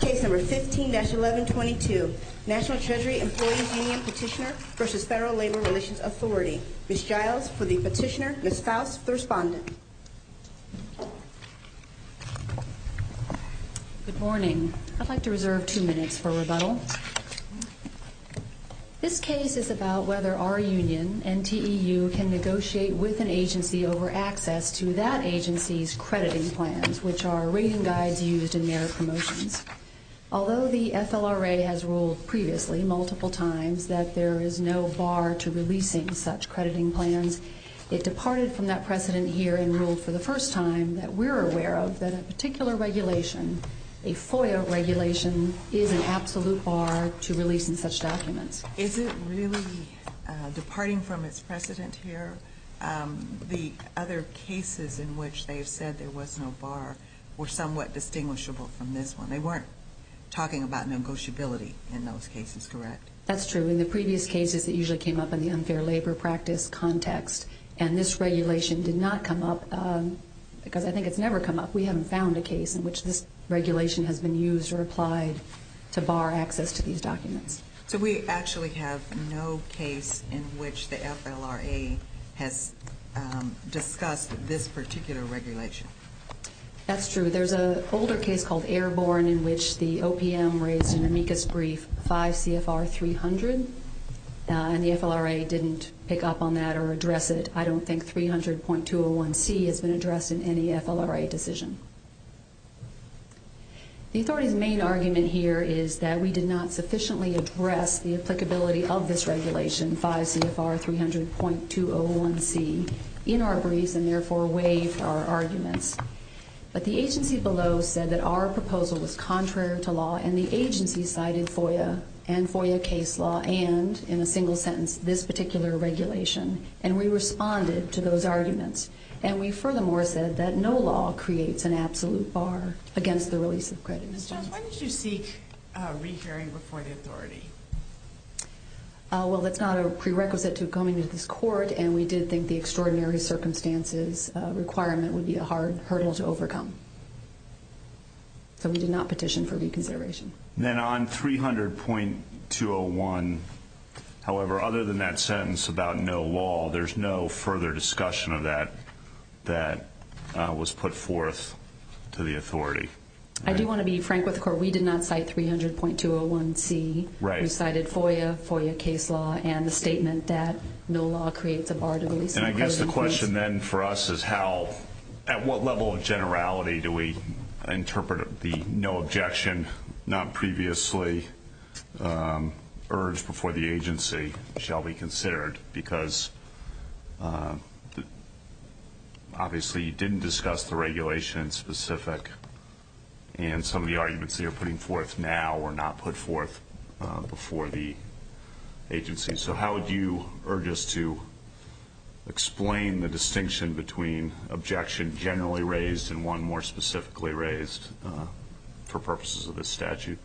Case No. 15-1122, National Treasury Employees Union Petitioner v. Federal Labor Relations Authority. Ms. Giles, for the petitioner. Ms. Faust, the respondent. Good morning. I'd like to reserve two minutes for rebuttal. This case is about whether our rating guides used in merit promotions. Although the FLRA has ruled previously, multiple times, that there is no bar to releasing such crediting plans, it departed from that precedent here and ruled for the first time that we're aware of that a particular regulation, a FOIA regulation, is an absolute bar to releasing such documents. Is it really departing from its precedent here? The other cases in which they've said there was no bar were somewhat distinguishable from this one. They weren't talking about negotiability in those cases, correct? That's true. In the previous cases, it usually came up in the unfair labor practice context, and this regulation did not come up, because I think it's never come up. We haven't found a case in which this regulation has been used or applied to bar access to these documents. So we actually have no case in which the FLRA has discussed this particular regulation? That's true. There's an older case called Airborne in which the OPM raised an amicus brief 5 CFR 300, and the FLRA didn't pick up on that or address it. I don't think 300.201C has been addressed in any FLRA decision. The authority's main argument here is that we did not sufficiently address the applicability of this regulation, 5 CFR 300.201C, in our briefs and therefore waived our arguments. But the agency below said that our proposal was contrary to law, and the agency cited FOIA and FOIA case law and, in a single sentence, this particular regulation, and we responded to those arguments. And we furthermore said that no law creates an absolute bar against the release of credit. Ms. Jones, why did you seek re-hearing before the authority? Well, that's not a prerequisite to coming to this court, and we did think the extraordinary circumstances requirement would be a hard hurdle to overcome. So we did not petition for reconsideration. Then on 300.201, however, other than that sentence about no law, there's no further discussion of that that was put forth to the authority? I do want to be frank with the court. We did not cite 300.201C. We cited FOIA, FOIA case law, and the statement that no law creates a bar to release credit. And I guess the question then for us is how, at what level of generality, do we interpret the no objection, not previously urged before the agency, shall be considered? Because obviously you didn't discuss the regulation in specific, and some of the arguments that you're putting forth now were not put forth before the agency. So how would you urge us to explain the distinction between objection generally raised and one more specifically raised for purposes of this statute?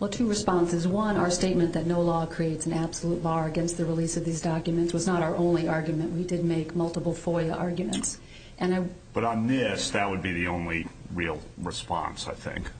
Well, two responses. One, our statement that no law creates an absolute bar against the release of these documents was not our only argument. We did make multiple FOIA arguments. But on this, that would be the only real response, I think.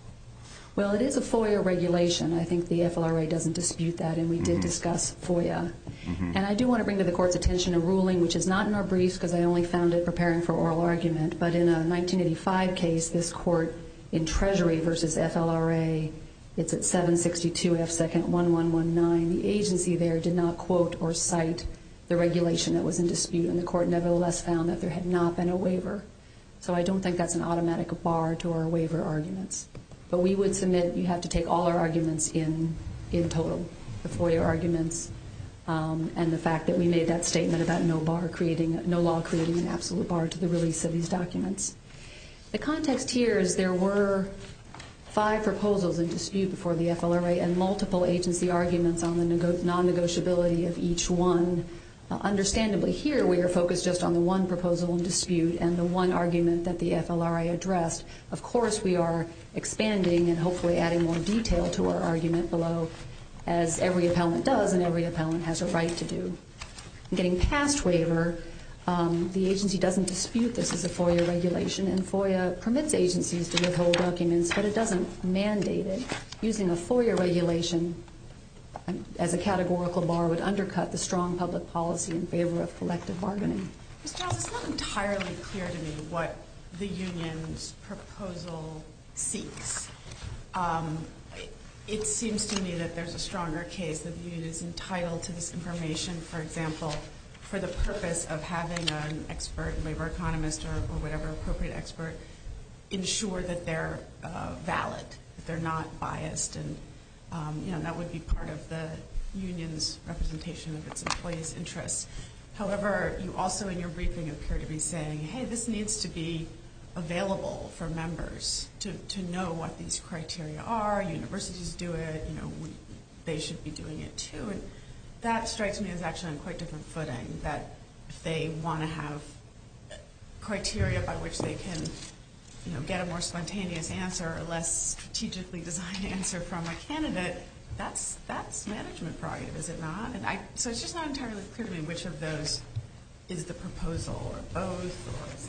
Well, it is a FOIA regulation. I think the FLRA doesn't dispute that, and we did discuss FOIA. And I do want to bring to the court's attention a ruling, which is not in our briefs because I only found it preparing for oral argument, but in a 1985 case, this court in Treasury versus FLRA, it's at 762 F. 2nd. 1119. The agency there did not quote or cite the regulation that was in dispute, and the court nevertheless found that there had not been a waiver. So I don't think that's an automatic bar to our waiver arguments. But we would submit you have to take all our arguments in total, the FOIA arguments and the fact that we made that statement about no law creating an absolute bar to the release of these documents. The context here is there were five proposals in dispute before the FLRA, and multiple agency arguments on the non-negotiability of each one. Understandably, here we are focused just on the one proposal in dispute and the one argument that the FLRA addressed. Of course, we are expanding and hopefully adding more detail to our argument below, as every appellant does and every appellant has a right to do. Getting past waiver, the agency doesn't dispute this as a FOIA regulation, and FOIA permits agencies to withhold documents, but it doesn't mandate it. Using a FOIA regulation as a categorical bar would undercut the strong public policy in favor of collective bargaining. Ms. Giles, it's not entirely clear to me what the union's proposal seeks. It seems to me that there's a stronger case that the union is entitled to this information, for example, for the purpose of having an expert, a waiver economist or whatever appropriate expert, ensure that they're valid, that they're not biased, and that would be part of the union's representation of its employees' interests. However, you also in your briefing appear to be saying, hey, this needs to be available for members to know what these criteria are. Universities do it. They should be doing it, too. That strikes me as actually on quite a different footing, that they want to have criteria by which they can get a more spontaneous answer, a less strategically designed answer from a candidate. That's management prerogative, is it not? So it's just not entirely clear to me which of those is the proposal, or both, or is it?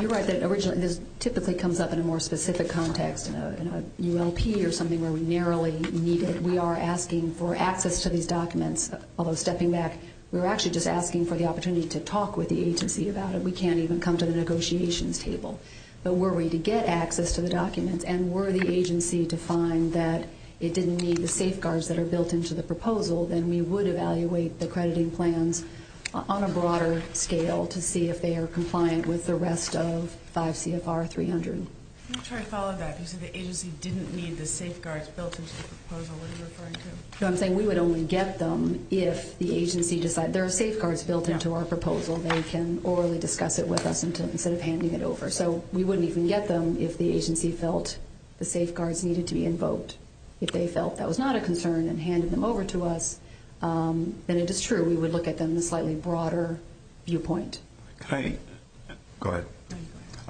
You're right. This typically comes up in a more specific context, in a ULP or something where we narrowly need it. We are asking for access to these documents, although stepping back, we're actually just asking for the opportunity to talk with the agency about it. We can't even come to the negotiations table. But were we to get access to the documents and were the agency to find that it didn't need the safeguards that are built into the proposal, then we would evaluate the crediting plans on a broader scale to see if they are compliant with the rest of 5 CFR 300. Let me try to follow that. You said the agency didn't need the safeguards built into the proposal. What are you referring to? No, I'm saying we would only get them if the agency decided. There are safeguards built into our proposal. They can orally discuss it with us instead of handing it over. So we wouldn't even get them if the agency felt the safeguards needed to be invoked. If they felt that was not a concern and handed them over to us, then it is true. We would look at them in a slightly broader viewpoint. Can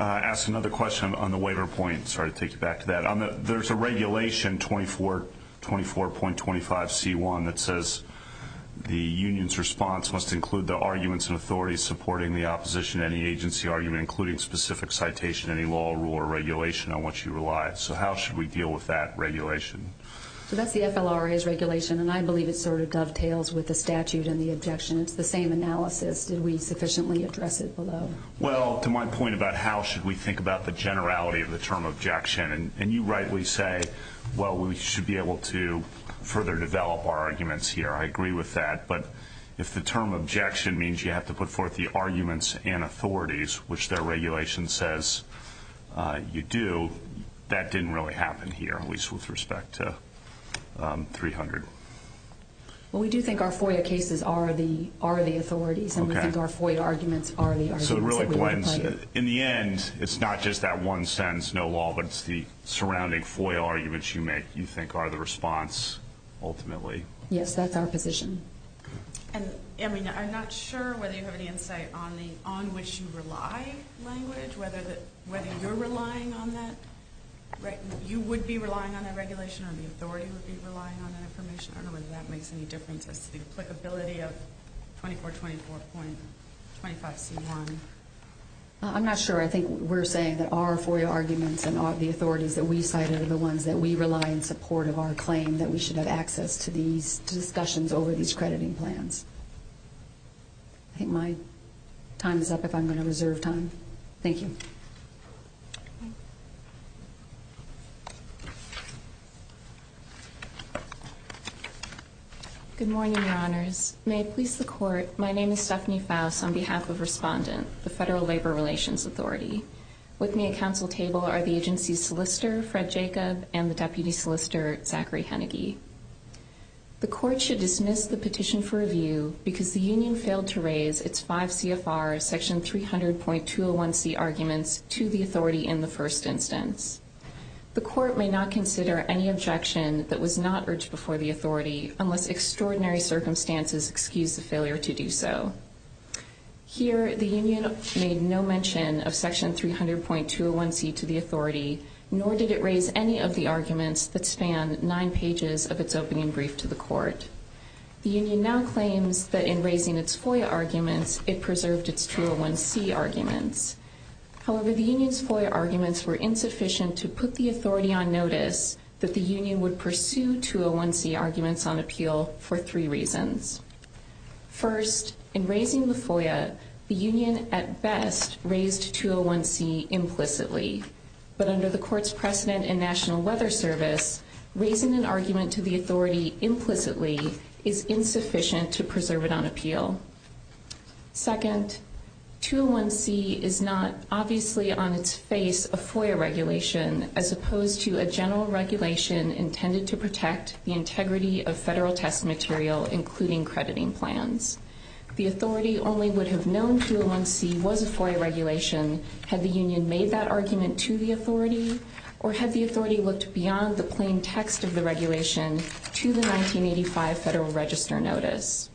I ask another question on the waiver point? There is a regulation 24.25C1 that says the union's response must include the arguments and authorities supporting the opposition to any agency argument, including specific citation, any law, rule, or regulation on which you rely. So how should we deal with that regulation? That is the FLRA's regulation and I believe it dovetails with the statute and the objection. It is the same analysis. Did we sufficiently address it below? Well, to my point about how should we think about the generality of the term objection, and you rightly say, well, we should be able to further develop our arguments here. I agree with that. But if the term objection means you have to put forth the arguments and authorities, which their regulation says you do, that didn't really happen here, at least with respect to 300. Well, we do think our FOIA cases are the authorities and we think our FOIA arguments are the arguments that we want to play. So it really blends. In the end, it is not just that one sentence, no law, but it is the surrounding FOIA arguments you make you think are the response ultimately. Yes, that is our position. And I am not sure whether you have any insight on which you rely language, whether you are relying on that. You would be relying on that regulation or the authority would be relying on that information. I don't know whether that makes any difference as to the applicability of 2424.25C1. I am not sure. I think we are saying that our FOIA arguments and the authorities that we cited are the ones that we rely in support of our claim that we should have access to these discussions over these crediting plans. I think my time is up if I am going to reserve time. Thank you. Good morning, Your Honors. May it please the Court, my name is Stephanie Faus on behalf of Respondent, the Federal Labor Relations Authority. With me at council table are the agency's solicitor, Fred Jacob, and the deputy solicitor, Zachary Hennigy. The Court should dismiss the petition for review because the union failed to raise its five CFR section 300.201C arguments to the authority in the first instance. The Court may not consider any objection that was not urged before the authority unless extraordinary circumstances excuse the failure to do so. Here, the union made no mention of section 300.201C to the authority, nor did it raise any of the arguments that span nine pages of its opening brief to the Court. The union now claims that in raising its FOIA arguments, it preserved its 201C arguments. However, the union's FOIA arguments were insufficient to put the authority on notice that the union would pursue 201C arguments on appeal for three reasons. First, in raising the FOIA, the union at best raised 201C implicitly. But under the Court's precedent in National Weather Service, raising an argument to the authority implicitly is insufficient to preserve it on appeal. Second, 201C is not obviously on its face a FOIA regulation as opposed to a general regulation intended to protect the integrity of federal test material, including crediting plans. The authority only would have known 201C was a FOIA regulation had the union made that argument to the authority or had the authority looked beyond the plain text of the regulation to the 1985 Federal Register Notice.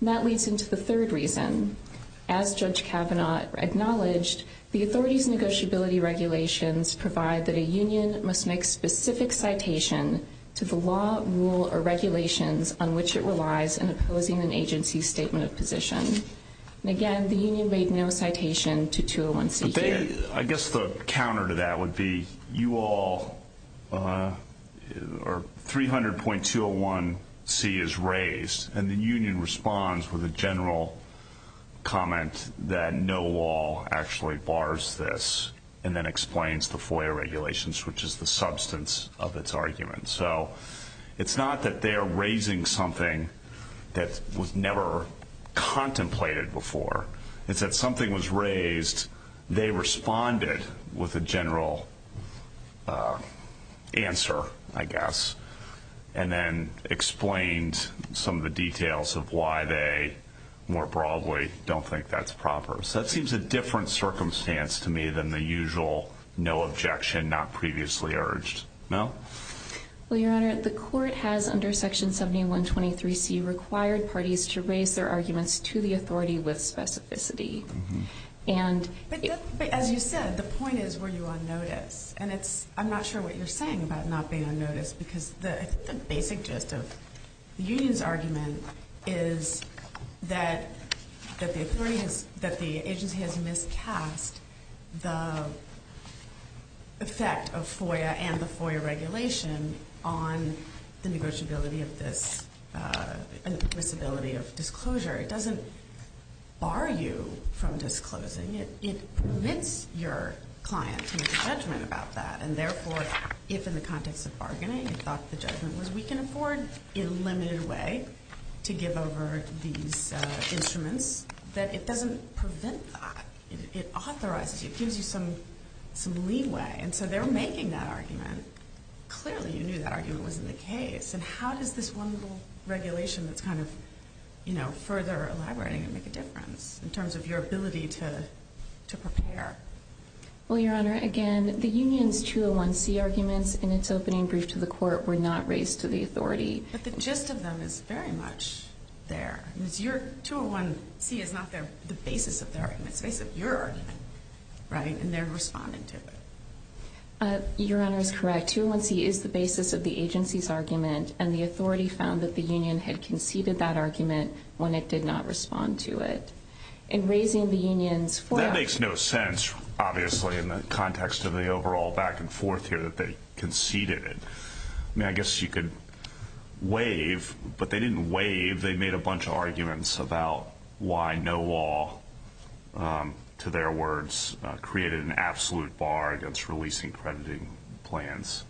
And that leads into the third reason. As Judge Kavanaugh acknowledged, the authority's negotiability regulations provide that a union must make specific citation to the law, rule, or regulations on which it relies in opposing an agency's statement of position. And again, the union made no citation to 201C here. I guess the counter to that would be you all are 300.201C is raised and the union responds with a general comment that no law actually bars this and then explains the FOIA regulations, which is the substance of its argument. So it's not that they are raising something that was never contemplated before. It's that something was raised. They responded with a general answer, I guess, and then explained some of the details of why they more broadly don't think that's proper. So that seems a different circumstance to me than the usual no objection, not previously urged. Mel? Well, Your Honor, the court has under Section 7123C required parties to raise their arguments to the authority with specificity. But as you said, the point is were you on notice. And I'm not sure what you're saying about not being on notice because the basic gist of the union's argument is that the agency has miscast the effect of FOIA and the FOIA regulation on the negotiability of this and the possibility of disclosure. It doesn't bar you from disclosing. It permits your client to make a judgment about that. And therefore, if in the context of bargaining you thought the judgment was we can afford a limited way to give over these instruments, that it doesn't prevent that. It authorizes you. It gives you some leeway. And so they're making that argument. Clearly you knew that argument was in the case. And how does this one little regulation that's kind of, you know, further elaborating and make a difference in terms of your ability to prepare? Well, Your Honor, again, the union's 201C arguments in its opening brief to the court were not raised to the authority. But the gist of them is very much there. 201C is not the basis of their argument. It's the basis of your argument, right? And they're responding to it. Your Honor is correct. 201C is the basis of the agency's argument. And the authority found that the union had conceded that argument when it did not respond to it. In raising the union's 4- That makes no sense, obviously, in the context of the overall back and forth here that they conceded it. I mean, I guess you could waive. But they didn't waive. They made a bunch of arguments about why no law, to their words, created an absolute bar against releasing crediting plans.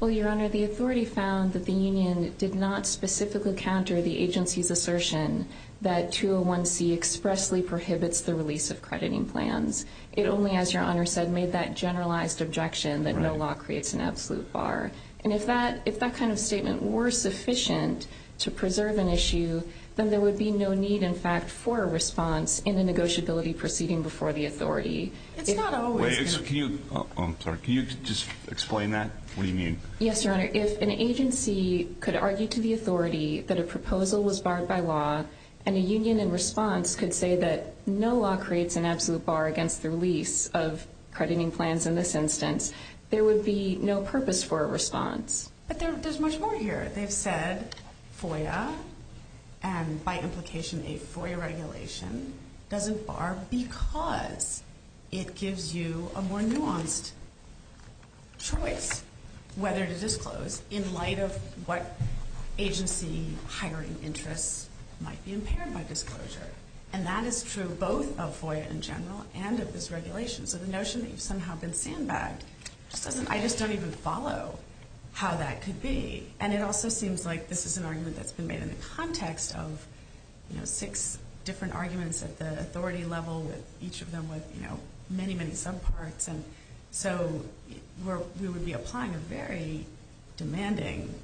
Well, Your Honor, the authority found that the union did not specifically counter the agency's assertion that 201C expressly prohibits the release of crediting plans. It only, as Your Honor said, made that generalized objection that no law creates an absolute bar. And if that kind of statement were sufficient to preserve an issue, then there would be no need, in fact, for a response in a negotiability proceeding before the authority. It's not always- Wait, so can you- I'm sorry. Can you just explain that? What do you mean? Yes, Your Honor. If an agency could argue to the authority that a proposal was barred by law and a union in response could say that no law creates an absolute bar against the release of crediting plans in this instance, there would be no purpose for a response. But there's much more here. They've said FOIA and by implication a FOIA regulation doesn't bar because it gives you a more nuanced choice whether to disclose in light of what agency hiring interests might be impaired by disclosure. And that is true both of FOIA in general and of this regulation. So the notion that you've somehow been sandbagged just doesn't- I just don't even follow how that could be. And it also seems like this is an argument that's been made in the context of, you know, six different arguments at the authority level with each of them with, you know, many, many subparts. And so we would be applying a very demanding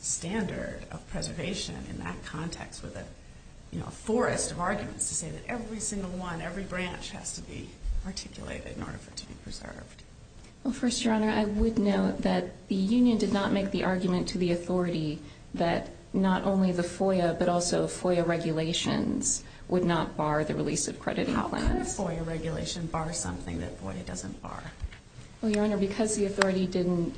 standard of preservation in that context with a forest of arguments to say that every single one, every branch has to be articulated in order for it to be preserved. Well, first, Your Honor, I would note that the union did not make the argument to the authority that not only the FOIA but also FOIA regulations would not bar the release of crediting plans. How could a FOIA regulation bar something that FOIA doesn't bar? Well, Your Honor, because the authority didn't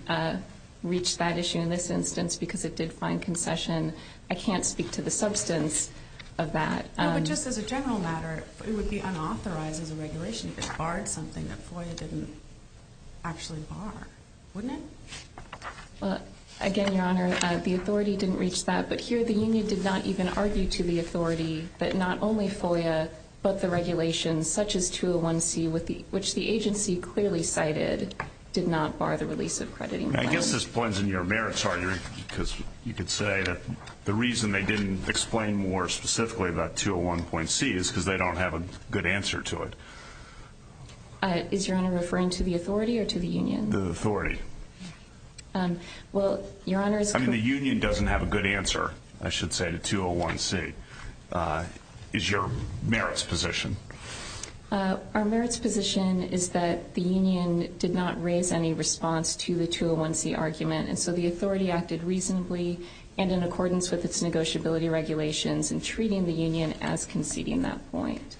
reach that issue in this instance because it did find concession, I can't speak to the substance of that. No, but just as a general matter, it would be unauthorized as a regulation if it barred something that FOIA didn't actually bar, wouldn't it? Again, Your Honor, the authority didn't reach that. But here the union did not even argue to the authority that not only FOIA but the regulations such as 201C, which the agency clearly cited, did not bar the release of crediting plans. I guess this blends in your merits argument because you could say that the reason they didn't explain more specifically about 201.C is because they don't have a good answer to it. Is Your Honor referring to the authority or to the union? The authority. Well, Your Honor, it's... I mean, the union doesn't have a good answer, I should say, to 201C. Is your merits position? Our merits position is that the union did not raise any response to the 201C argument, and so the authority acted reasonably and in accordance with its negotiability regulations in treating the union as conceding that point.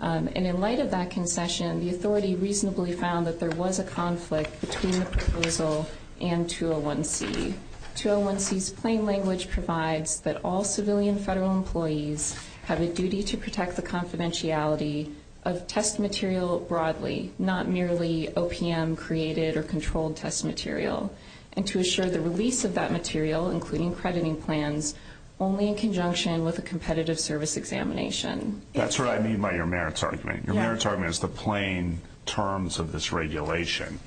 And in light of that concession, the authority reasonably found that there was a conflict between the proposal and 201C. 201C's plain language provides that all civilian federal employees have a duty to protect the confidentiality of test material broadly, not merely OPM-created or controlled test material, and to assure the release of that material, including crediting plans, only in conjunction with a competitive service examination. That's what I mean by your merits argument. Your merits argument is the plain terms of this regulation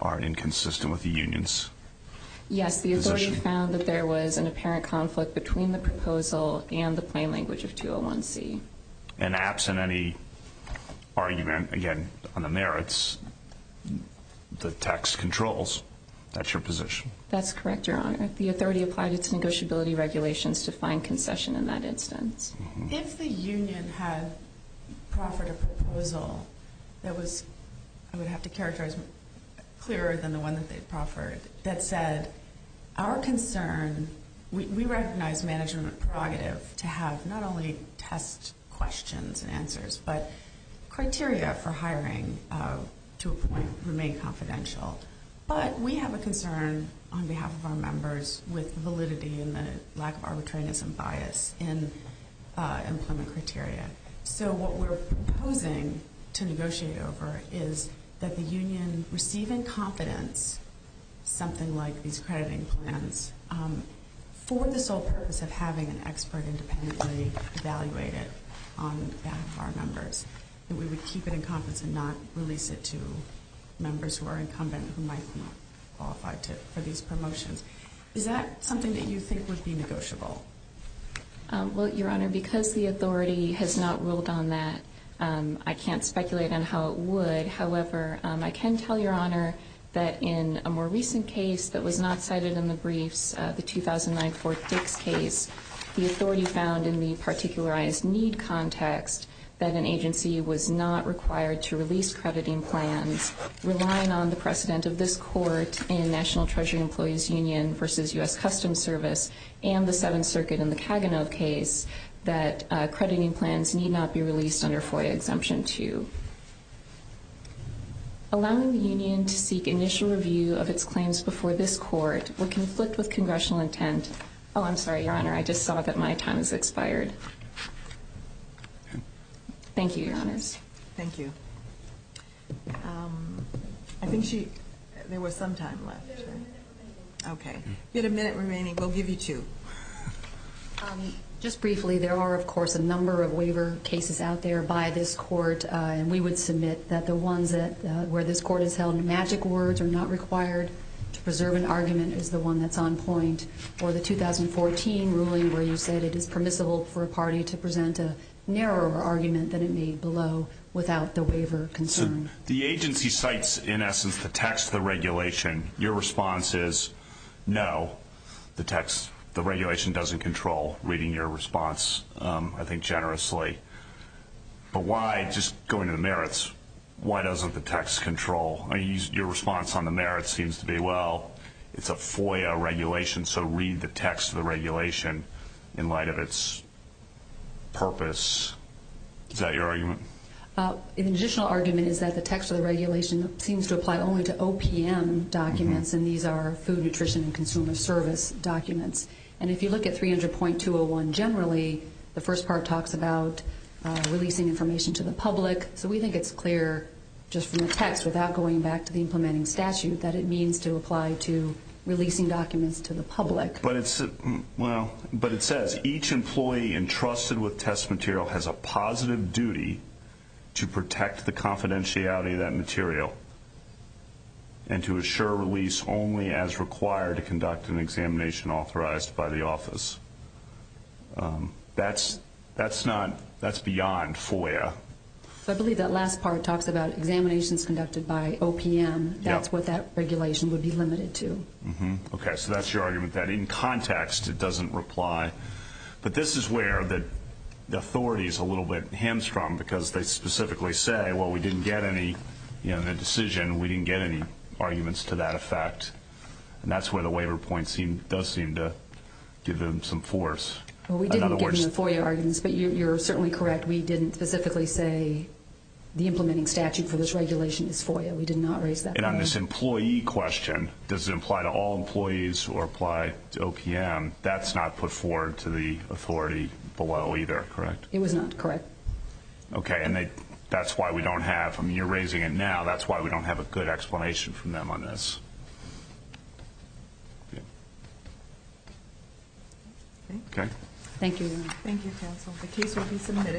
are inconsistent with the union's position. Yes, the authority found that there was an apparent conflict between the proposal and the plain language of 201C. And absent any argument, again, on the merits, the tax controls, that's your position? That's correct, Your Honor. The authority applied its negotiability regulations to find concession in that instance. If the union had proffered a proposal that was, I would have to characterize, clearer than the one that they'd proffered, that said our concern, we recognize management prerogative to have not only test questions and answers, but criteria for hiring to a point remain confidential. But we have a concern on behalf of our members with validity and the lack of arbitrariness and bias in employment criteria. So what we're proposing to negotiate over is that the union receive in confidence something like these crediting plans for the sole purpose of having an expert independently evaluate it on behalf of our members, that we would keep it in confidence and not release it to members who are incumbent who might not qualify for these promotions. Is that something that you think would be negotiable? Well, Your Honor, because the authority has not ruled on that, I can't speculate on how it would. However, I can tell Your Honor that in a more recent case that was not cited in the briefs, the 2009 Fort Dix case, the authority found in the particularized need context that an agency was not required to release crediting plans, relying on the precedent of this court in National Treasury Employees Union v. U.S. Customs Service and the Seventh Circuit in the Kaganove case that crediting plans need not be released under FOIA Exemption 2. Allowing the union to seek initial review of its claims before this court would conflict with congressional intent. Oh, I'm sorry, Your Honor, I just saw that my time has expired. Thank you, Your Honors. Thank you. I think there was some time left. You have a minute remaining. Okay. You have a minute remaining. We'll give you two. Just briefly, there are, of course, a number of waiver cases out there by this court, and we would submit that the ones where this court has held magic words are not required to preserve an argument is the one that's on point for the 2014 ruling where you said it is permissible for a party to present a narrower argument than it made below without the waiver concern. The agency cites, in essence, the text of the regulation. Your response is no, the text, the regulation doesn't control, reading your response, I think, generously. But why, just going to the merits, why doesn't the text control? Your response on the merits seems to be, well, it's a FOIA regulation, so read the text of the regulation in light of its purpose. Is that your argument? An additional argument is that the text of the regulation seems to apply only to OPM documents, and these are Food, Nutrition, and Consumer Service documents. And if you look at 300.201 generally, the first part talks about releasing information to the public, so we think it's clear just from the text without going back to the implementing statute that it means to apply to releasing documents to the public. But it says each employee entrusted with test material has a positive duty to protect the confidentiality of that material and to assure release only as required to conduct an examination authorized by the office. That's beyond FOIA. I believe that last part talks about examinations conducted by OPM. That's what that regulation would be limited to. Okay, so that's your argument, that in context it doesn't reply. But this is where the authorities are a little bit hamstrung because they specifically say, well, we didn't get any in the decision, we didn't get any arguments to that effect. And that's where the waiver point does seem to give them some force. Well, we didn't give them FOIA arguments, but you're certainly correct. We didn't specifically say the implementing statute for this regulation is FOIA. We did not raise that. And on this employee question, does it apply to all employees or apply to OPM, that's not put forward to the authority below either, correct? It was not, correct. Okay, and that's why we don't have them. And you're raising it now. That's why we don't have a good explanation from them on this. Okay. Thank you. Thank you, counsel. The case will be submitted.